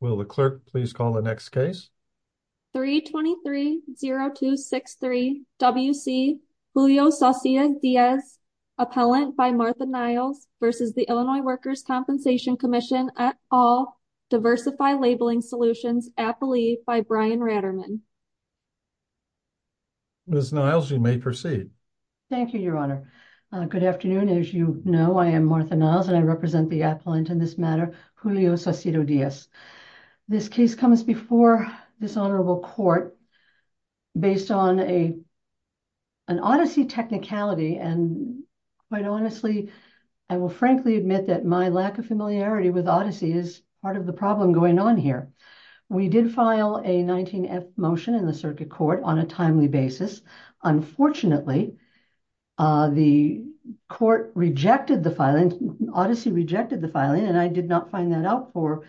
Will the clerk please call the next case? 3-23-0263-WC Julio Saucedo-Diaz, Appellant by Martha Niles v. Illinois Workers' Compensation Comm'n at All, Diversify Labeling Solutions, Appalee by Brian Ratterman. Ms. Niles, you may proceed. Thank you, Your Honor. Good afternoon. As you know, I am Martha Niles and I represent the appellant in this matter, Julio Saucedo-Diaz. This case comes before this honorable court based on an odyssey technicality and quite honestly, I will frankly admit that my lack of familiarity with odyssey is part of the problem going on here. We did file a 19-F motion in the circuit court on a timely basis. Unfortunately, the court rejected the filing, odyssey rejected the filing and I did not find that out for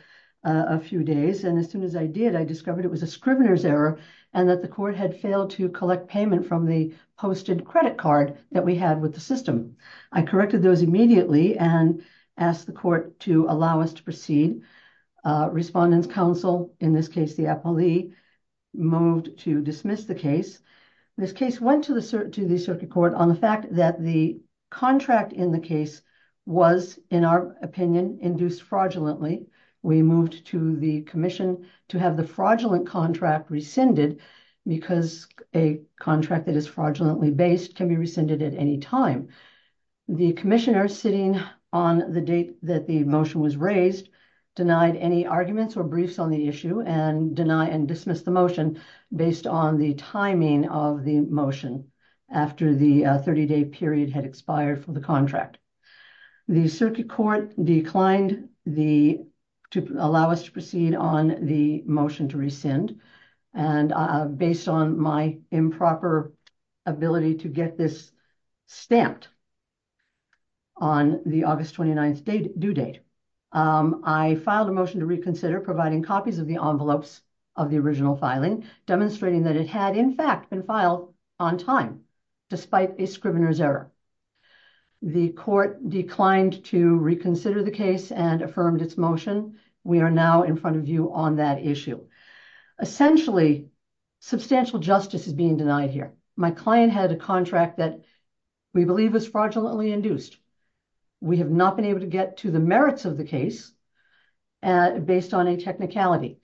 a few days and as soon as I did, I discovered it was a scrivener's error and that the court had failed to collect payment from the posted credit card that we had with the system. I corrected those immediately and asked the court to allow us to proceed. Respondent's counsel, in this case the appellee, moved to dismiss the case. This case went to the circuit court on the fact that the contract in the case was, in our opinion, induced fraudulently. We moved to the commission to have the fraudulent contract rescinded because a contract that is fraudulently based can be rescinded at any time. The commissioner sitting on the date that the motion was raised denied any arguments or briefs on the issue and dismissed the motion based on the timing of the motion after the 30-day period had expired for the contract. The circuit court declined to allow us to proceed on the motion to rescind and based on my improper ability to get this stamped on the file, I filed a motion to reconsider providing copies of the envelopes of the original filing demonstrating that it had in fact been filed on time despite a scrivener's error. The court declined to reconsider the case and affirmed its motion. We are now in front of you on that issue. Essentially, substantial justice is being denied here. My client had a contract that we believe was fraudulently induced. We have not been able to get to the merits of the case based on a technicality.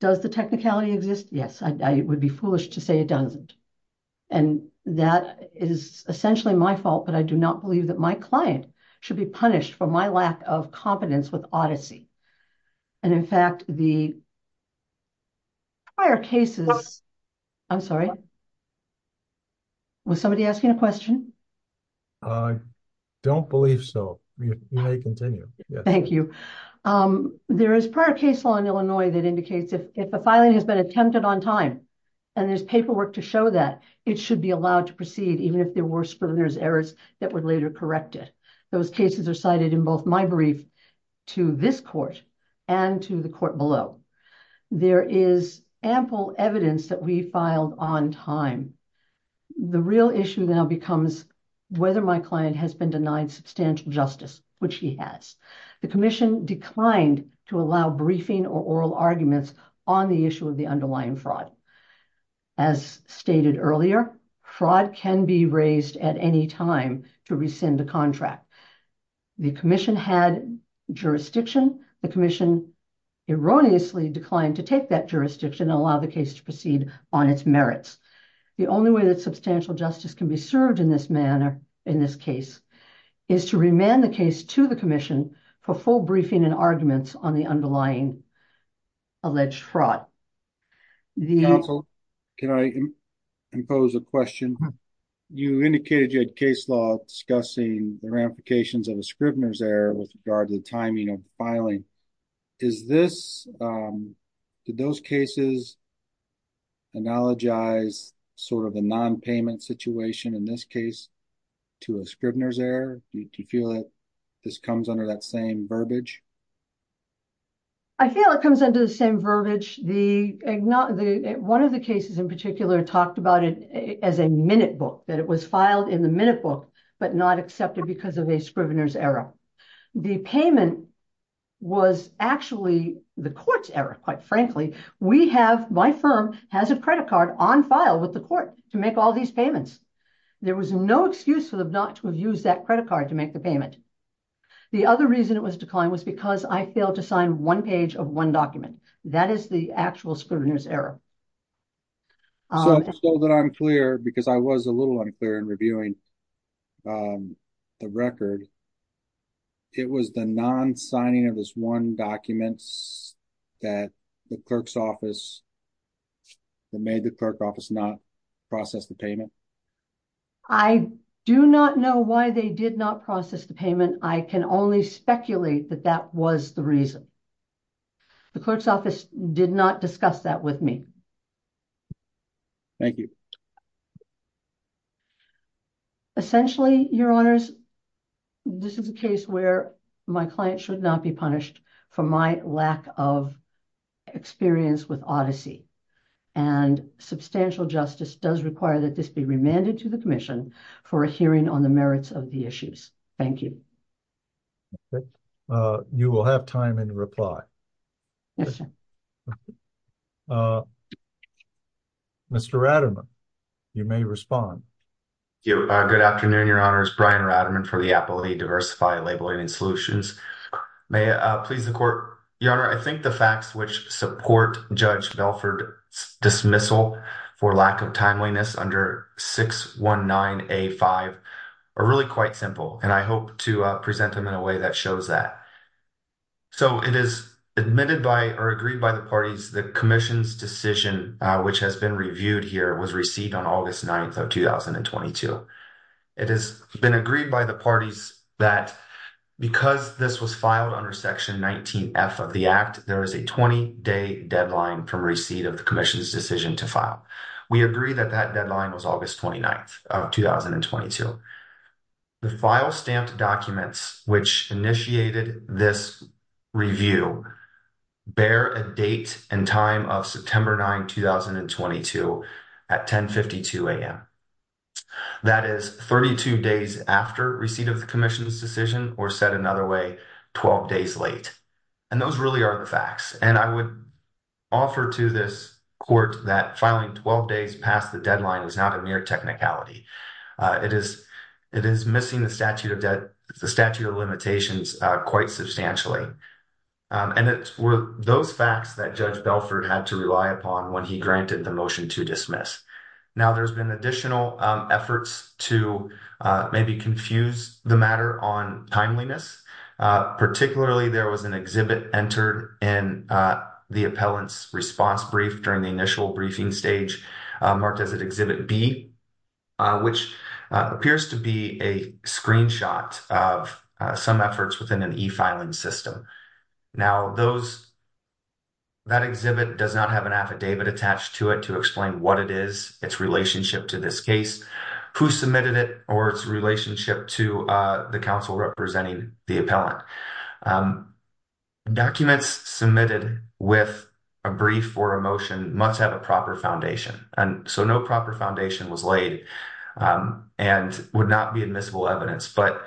Does the technicality exist? Yes. I would be foolish to say it doesn't. That is essentially my fault, but I do not believe that my client should be punished for my lack of competence with Odyssey. In fact, the prior cases I'm sorry, was somebody asking a question? I don't believe so. You may continue. Thank you. There is prior case law in Illinois that indicates if a filing has been attempted on time and there's paperwork to show that, it should be allowed to proceed even if there were scrivener's errors that were later corrected. Those cases are cited in both my brief to this court and to the court below. There is ample evidence that we filed on time. The real issue now becomes whether my client has been denied substantial justice, which he has. The commission declined to allow briefing or oral arguments on the issue of the underlying fraud. As stated earlier, fraud can be raised at any time to rescind a contract. The commission had jurisdiction. The commission erroneously declined to take that jurisdiction and allow the case to proceed on its merits. The only way that substantial justice can be served in this manner, in this case, is to remand the case to the commission for full briefing and arguments on the underlying alleged fraud. Counsel, can I impose a question? You indicated you had case discussing the ramifications of a scrivener's error with regard to the timing of filing. Did those cases analogize sort of a non-payment situation in this case to a scrivener's error? Do you feel that this comes under that same verbiage? I feel it comes under the same verbiage. One of the cases in particular talked about it as a minute book, that it was filed in the minute book, but not accepted because of a scrivener's error. The payment was actually the court's error, quite frankly. My firm has a credit card on file with the court to make all these payments. There was no excuse for them not to have used that credit card to make the payment. The other reason it was declined was because I failed to sign one page of one document. That is the actual scrivener's error. So, just so that I'm clear, because I was a little unclear in reviewing the record, it was the non-signing of this one document that the clerk's office, that made the clerk's office not process the payment? I do not know why they did not process the payment. I can only speculate that that was the reason. The clerk's office did not discuss that with me. Thank you. Essentially, your honors, this is a case where my client should not be punished for my lack of experience with Odyssey. Substantial justice does require that this be remanded to the commission for a hearing on the merits of the issues. Thank you. Okay. You will have time in reply. Mr. Ratterman, you may respond. Thank you. Good afternoon, your honors. Brian Ratterman for the Appellate Diversified Labeling Solutions. May I please the court? Your honor, I think the facts which support Judge Belford's dismissal for lack of timeliness under 619A5 are really quite simple, and I hope to present them in a way that shows that. So, it is admitted by or agreed by the parties the commission's decision which has been reviewed here was received on August 9th of 2022. It has been agreed by the parties that because this was filed under section 19F of the act, there is a 20-day deadline from receipt of the commission's decision to file. We agree that that deadline was August 29th of 2022. The file stamped documents which initiated this review bear a date and time of September 9, 2022 at 1052 a.m. That is 32 days after receipt of the commission's decision or said another way, 12 days late. And those really are the facts. And I would offer to this court that filing 12 days past the deadline is not a mere technicality. It is missing the statute of limitations quite substantially. And it were those facts that Judge Belford had to rely upon when he granted the motion to dismiss. Now, there's been additional efforts to maybe confuse the matter on timeliness. Particularly, there was an exhibit entered in the appellant's response brief during the initial briefing stage marked as an exhibit B, which appears to be a screenshot of some efforts within an e-filing system. Now, that exhibit does not have an affidavit attached to it to explain what it is, its relationship to this case, who submitted it, or its relationship to the council representing the appellant. Documents submitted with a brief or a motion must have a proper foundation. And so, no proper foundation was laid and would not be admissible evidence. But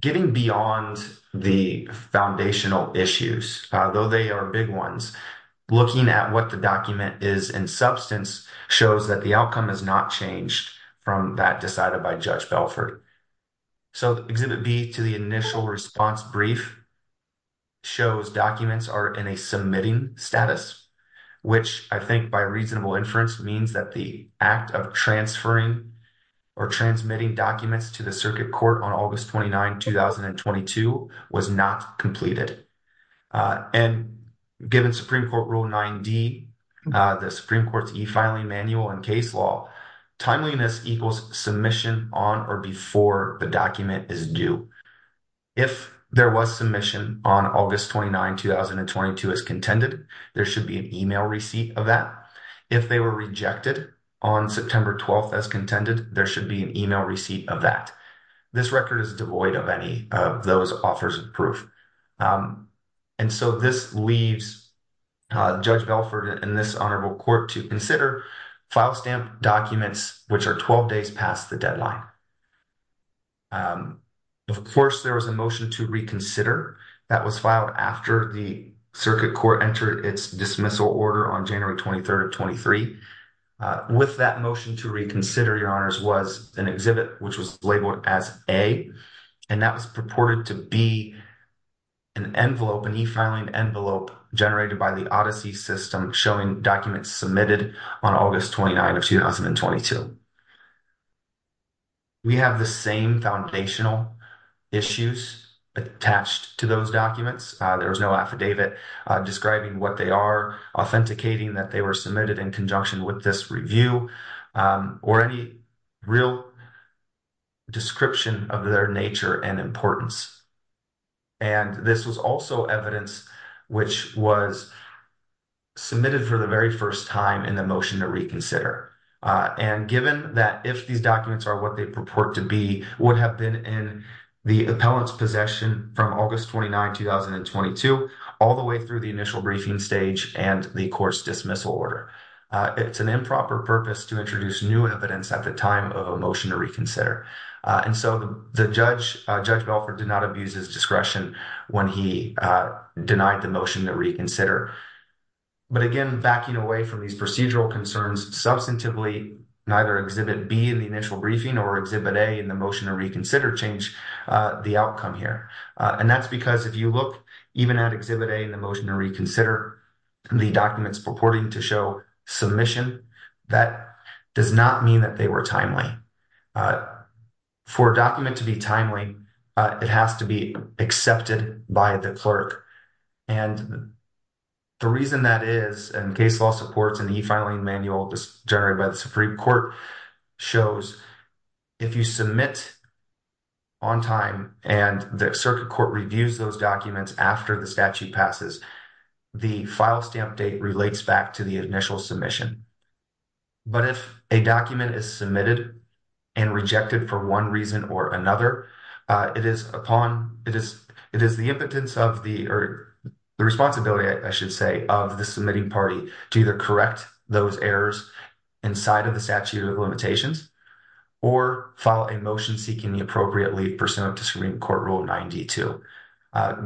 getting beyond the foundational issues, though they are big ones, looking at what the document is in substance shows that the outcome has not changed from that decided by Judge Belford. So, exhibit B to the initial response brief shows documents are in a submitting status, which I think by reasonable inference means that the act of transferring or transmitting documents to the circuit court on August 29, 2022 was not completed. And given Supreme Court Rule 9D, the Supreme Court's e-filing manual and case law, timeliness equals submission on or before the document is due. If there was submission on August 29, 2022 as contended, there should be an email receipt of that. If they were rejected on September 12th as contended, there should be an email receipt of that. This record is devoid of any of those offers of proof. And so, this leaves Judge Belford and this Honorable Court to consider file stamp documents, which are 12 days past the deadline. Of course, there was a motion to reconsider that was filed after the circuit court entered its dismissal order on January 23, 2023. With that motion to reconsider, Your Honors, was an exhibit which was labeled as A, and that was purported to be an envelope, an e-filing envelope generated by the ODYSSEY system showing documents submitted on August 29, 2022. We have the same foundational issues attached to those documents. There was no affidavit describing what they are, authenticating that they were submitted in conjunction with this review, or any real description of their nature and importance. And this was also evidence which was submitted for the very first time in the motion to reconsider. And given that if these documents are what they purport to be, would have been in the appellant's possession from August 29, 2022, all the way through the initial briefing stage and the court's dismissal order. It's an improper purpose to introduce new evidence at the time of a motion to reconsider. And so, Judge Belford did not abuse his discretion when he denied the motion to reconsider. But again, backing away from these procedural concerns, substantively, neither Exhibit B in the initial briefing or Exhibit A in the motion to reconsider change the outcome here. And that's if you look even at Exhibit A in the motion to reconsider, the documents purporting to show submission, that does not mean that they were timely. For a document to be timely, it has to be accepted by the clerk. And the reason that is, and case law supports and e-filing manual generated by the Supreme Court shows, if you submit on time and the circuit court reviews those documents after the statute passes, the file stamp date relates back to the initial submission. But if a document is submitted and rejected for one reason or another, it is upon, it is the impotence of the, or the responsibility, I should say, of the submitting party to either correct those errors inside of the statute of limitations or file a motion seeking the appropriate leave pursuant to Supreme Court Rule 92.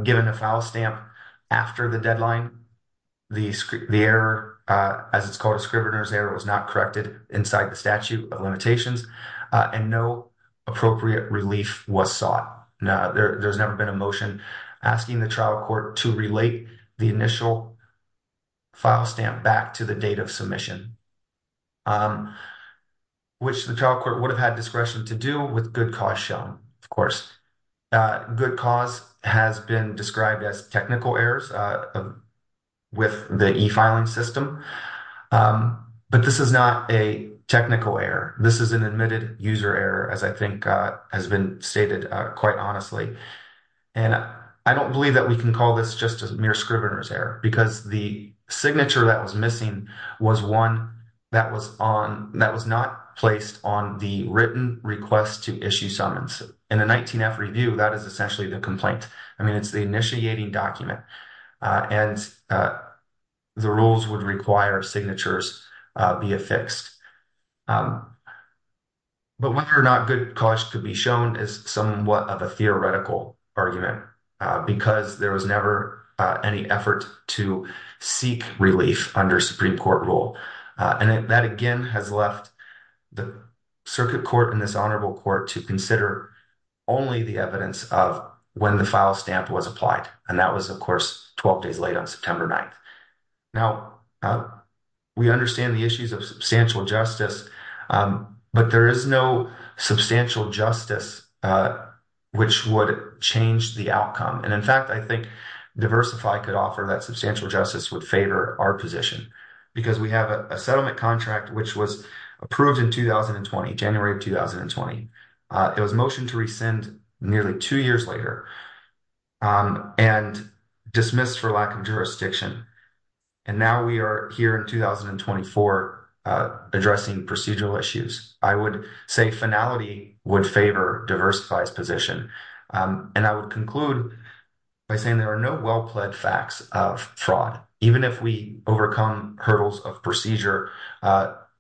Given a file stamp after the deadline, the error, as it's called a scrivener's error, was not corrected inside the statute of limitations and no appropriate relief was sought. There's never been a motion asking the trial court to relate the initial file stamp back to the date of submission, which the trial court would have had discretion to do with good cause shown, of course. Good cause has been described as technical errors with the e-filing system, but this is not a technical error. This is an admitted user error, as I think has been stated quite honestly. And I don't believe that we can call this just as signature that was missing was one that was on, that was not placed on the written request to issue summons. In the 19-F review, that is essentially the complaint. I mean, it's the initiating document and the rules would require signatures be affixed. But whether or not good cause could be shown is somewhat of a theoretical argument because there was never any effort to seek relief under Supreme Court rule. And that again has left the circuit court and this honorable court to consider only the evidence of when the file stamp was applied. And that was, of course, 12 days late on September 9th. Now, we understand the issues of substantial justice, but there is no substantial justice which would change the outcome. And in fact, I think substantial justice would favor our position because we have a settlement contract which was approved in 2020, January of 2020. It was motioned to rescind nearly two years later and dismissed for lack of jurisdiction. And now we are here in 2024 addressing procedural issues. I would say finality would favor diversified position. And I would conclude by saying there are no well-pled facts of fraud. Even if we overcome hurdles of procedure,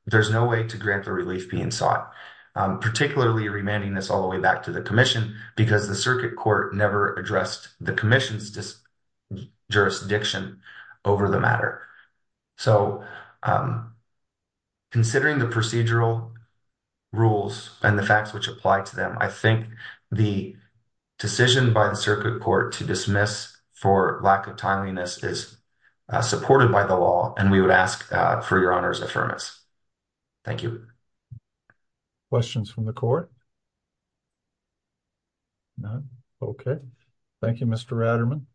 there's no way to grant the relief being sought, particularly remanding this all the way back to the commission because the circuit court never addressed the commission's jurisdiction over the matter. So, considering the procedural rules and the facts which apply to them, I think the decision by the circuit court to dismiss for lack of timeliness is supported by the law. And we would ask for Your Honor's affirmance. Thank you. Questions from the court? None. Okay. Thank you, Mr. Raderman.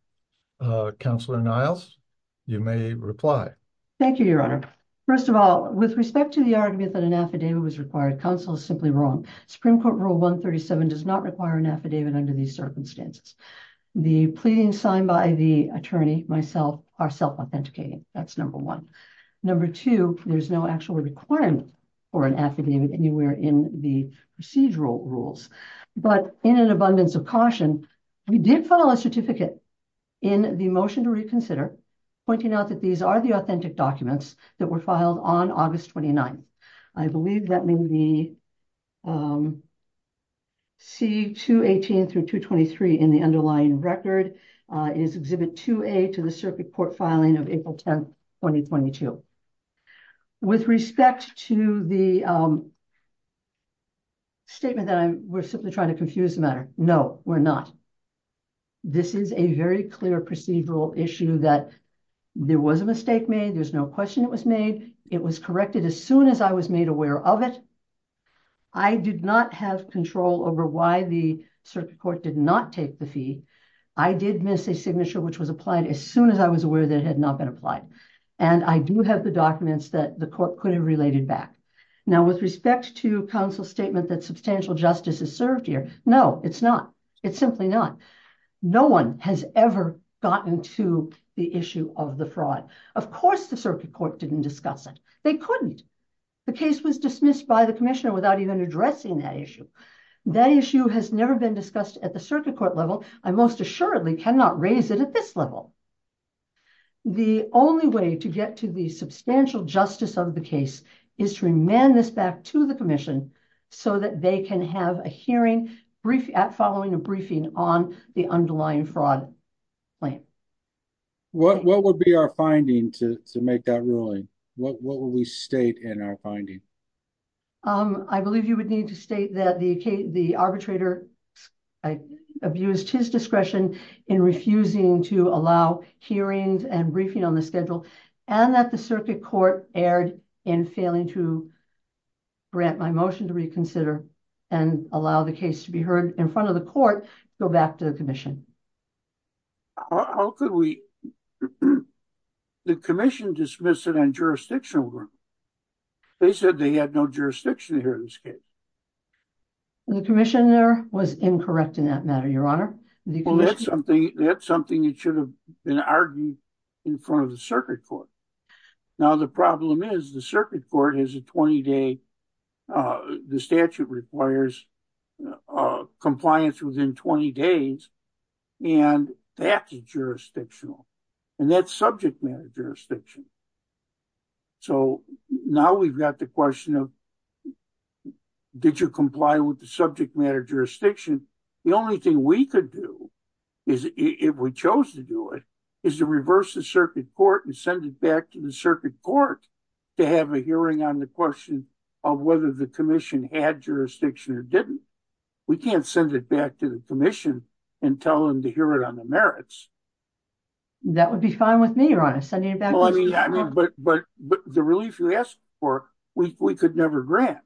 Counselor Niles, you may reply. Thank you, Your Honor. First of all, with respect to the argument that an affidavit was required, counsel is simply wrong. Supreme Court Rule 137 does not require an affidavit under these circumstances. The pleadings signed by the attorney, myself, are self-authenticating. That's number one. Number two, there's no actual requirement for an affidavit anywhere in the procedural rules. But in an abundance of caution, we did file a certificate in the motion to reconsider, pointing out that these are the authentic documents that were filed on August 29. I believe that may be C218-223 in the underlying record. It is Exhibit 2A to the circuit court filing of April 10, 2022. With respect to the statement that we're simply trying to confuse the matter, no, we're not. This is a very clear procedural issue that there was a mistake made, there's no question it was made. It was corrected as soon as I was made aware of it. I did not have control over why the circuit court did not take the fee. I did miss a signature which was applied as soon as I was aware that it had not been applied. And I do have the documents that the court could have related back. Now, with respect to counsel's statement that substantial justice is served here, no, it's not. It's simply not. No one has ever gotten to the issue of the fraud. Of course the circuit court didn't discuss it. They couldn't. The case was dismissed by the commissioner without even addressing that issue. That issue has never been discussed at the circuit court level. I most assuredly cannot raise it at this level. The only way to get to the substantial justice of the case is to remand this back to the commission so that they can have a hearing following a briefing on the underlying fraud claim. What would be our finding to make that ruling? What would we state in our finding? I believe you would need to state that the arbitrator abused his discretion in refusing to allow hearings and briefing on the schedule and that circuit court erred in failing to grant my motion to reconsider and allow the case to be heard in front of the court to go back to the commission. How could we? The commission dismissed it on jurisdictional ground. They said they had no jurisdiction here in this case. The commissioner was incorrect in that matter, your honor. That is something that should have been argued in front of the circuit court. The problem is the circuit court has a 20-day statute that requires compliance within 20 days. That is jurisdictional. That is subject matter jurisdiction. Now we have the question of did you comply with the subject matter jurisdiction? The only thing we could do is if we chose to do it is to reverse the circuit court and send it back to the circuit court to have a hearing on the question of whether the commission had jurisdiction or didn't. We can't send it back to the commission and tell them to hear it on the merits. That would be fine with me, your honor. But the relief you asked for, we could never grant.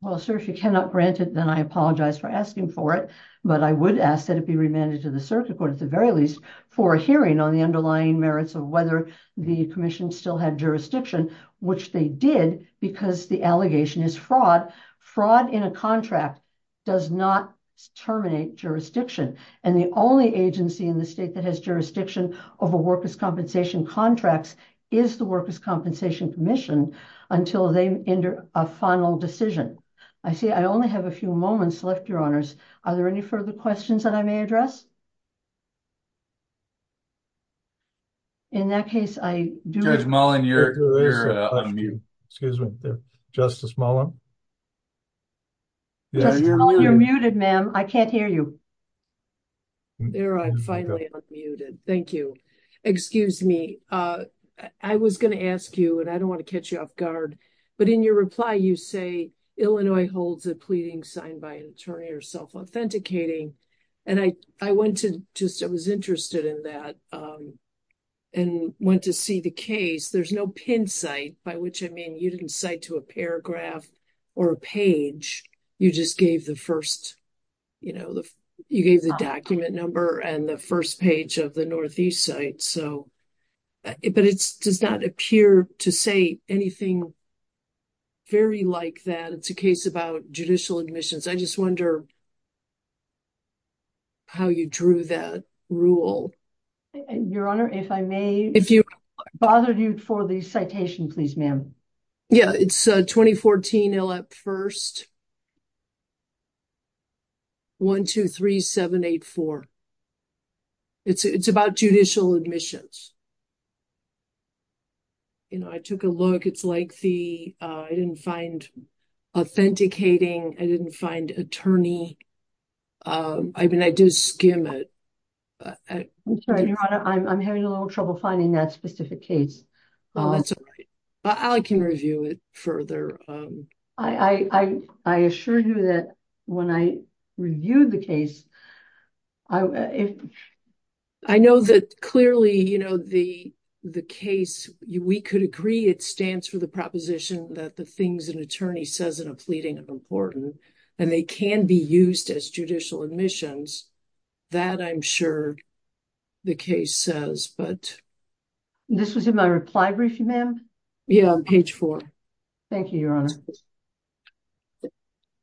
Well, sir, if you cannot grant it, then I apologize for asking for it. But I would ask that it be remanded to the circuit court at the very least for a hearing on the underlying merits of whether the commission still had jurisdiction, which they did because the allegation is fraud. Fraud in a contract does not terminate jurisdiction. And the only agency in the state that has jurisdiction over workers' compensation contracts is the workers' compensation commission until they enter a final decision. I see I only have a few moments left, your honors. Are there any further questions that I may address? In that case, I do... Judge Mullen, you're unmuted. Excuse me. Justice Mullen? Justice Mullen, you're muted, ma'am. I can't hear you. There, I'm finally unmuted. Thank you. Excuse me. I was going to ask you, and I don't want to catch you off guard, but in your reply, you say Illinois holds a pleading signed by an attorney or self-authenticating. And I went to just... I was interested in that and went to see the case. There's no pin site, by which I mean you didn't cite to a paragraph or a page. You just gave the first... You gave the document number and the first page of the Northeast site. But it does not appear to say anything very like that. It's a case about judicial admissions. I just wonder how you drew that rule. Your honor, if I may bother you for the citation, please, ma'am. Yeah, it's 2014 ILAP 1st, 1, 2, 3, 7, 8, 4. It's about judicial admissions. I took a look. It's like the... I didn't find authenticating. I didn't find attorney. I mean, I do skim it. I'm sorry, your honor. I'm having a little trouble finding that specific case. That's all right. I can review it further. I assure you that when I reviewed the case... I know that clearly the case, we could agree it stands for the proposition that the things an attorney says in a pleading of importance, and they can be used as judicial admissions. That I'm sure the case says, but... This was in my reply briefing, ma'am? Yeah, on page four. Thank you, your honor.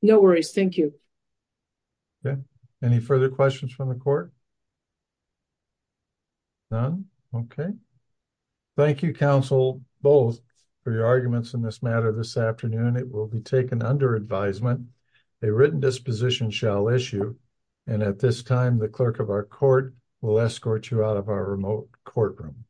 No worries. Thank you. Okay. Any further questions from the court? None? Okay. Thank you, counsel, both, for your arguments in this matter this afternoon. It will be taken under advisement. A written disposition shall issue. And at this time, the clerk of our court will escort you out of our remote courtroom. Thank you.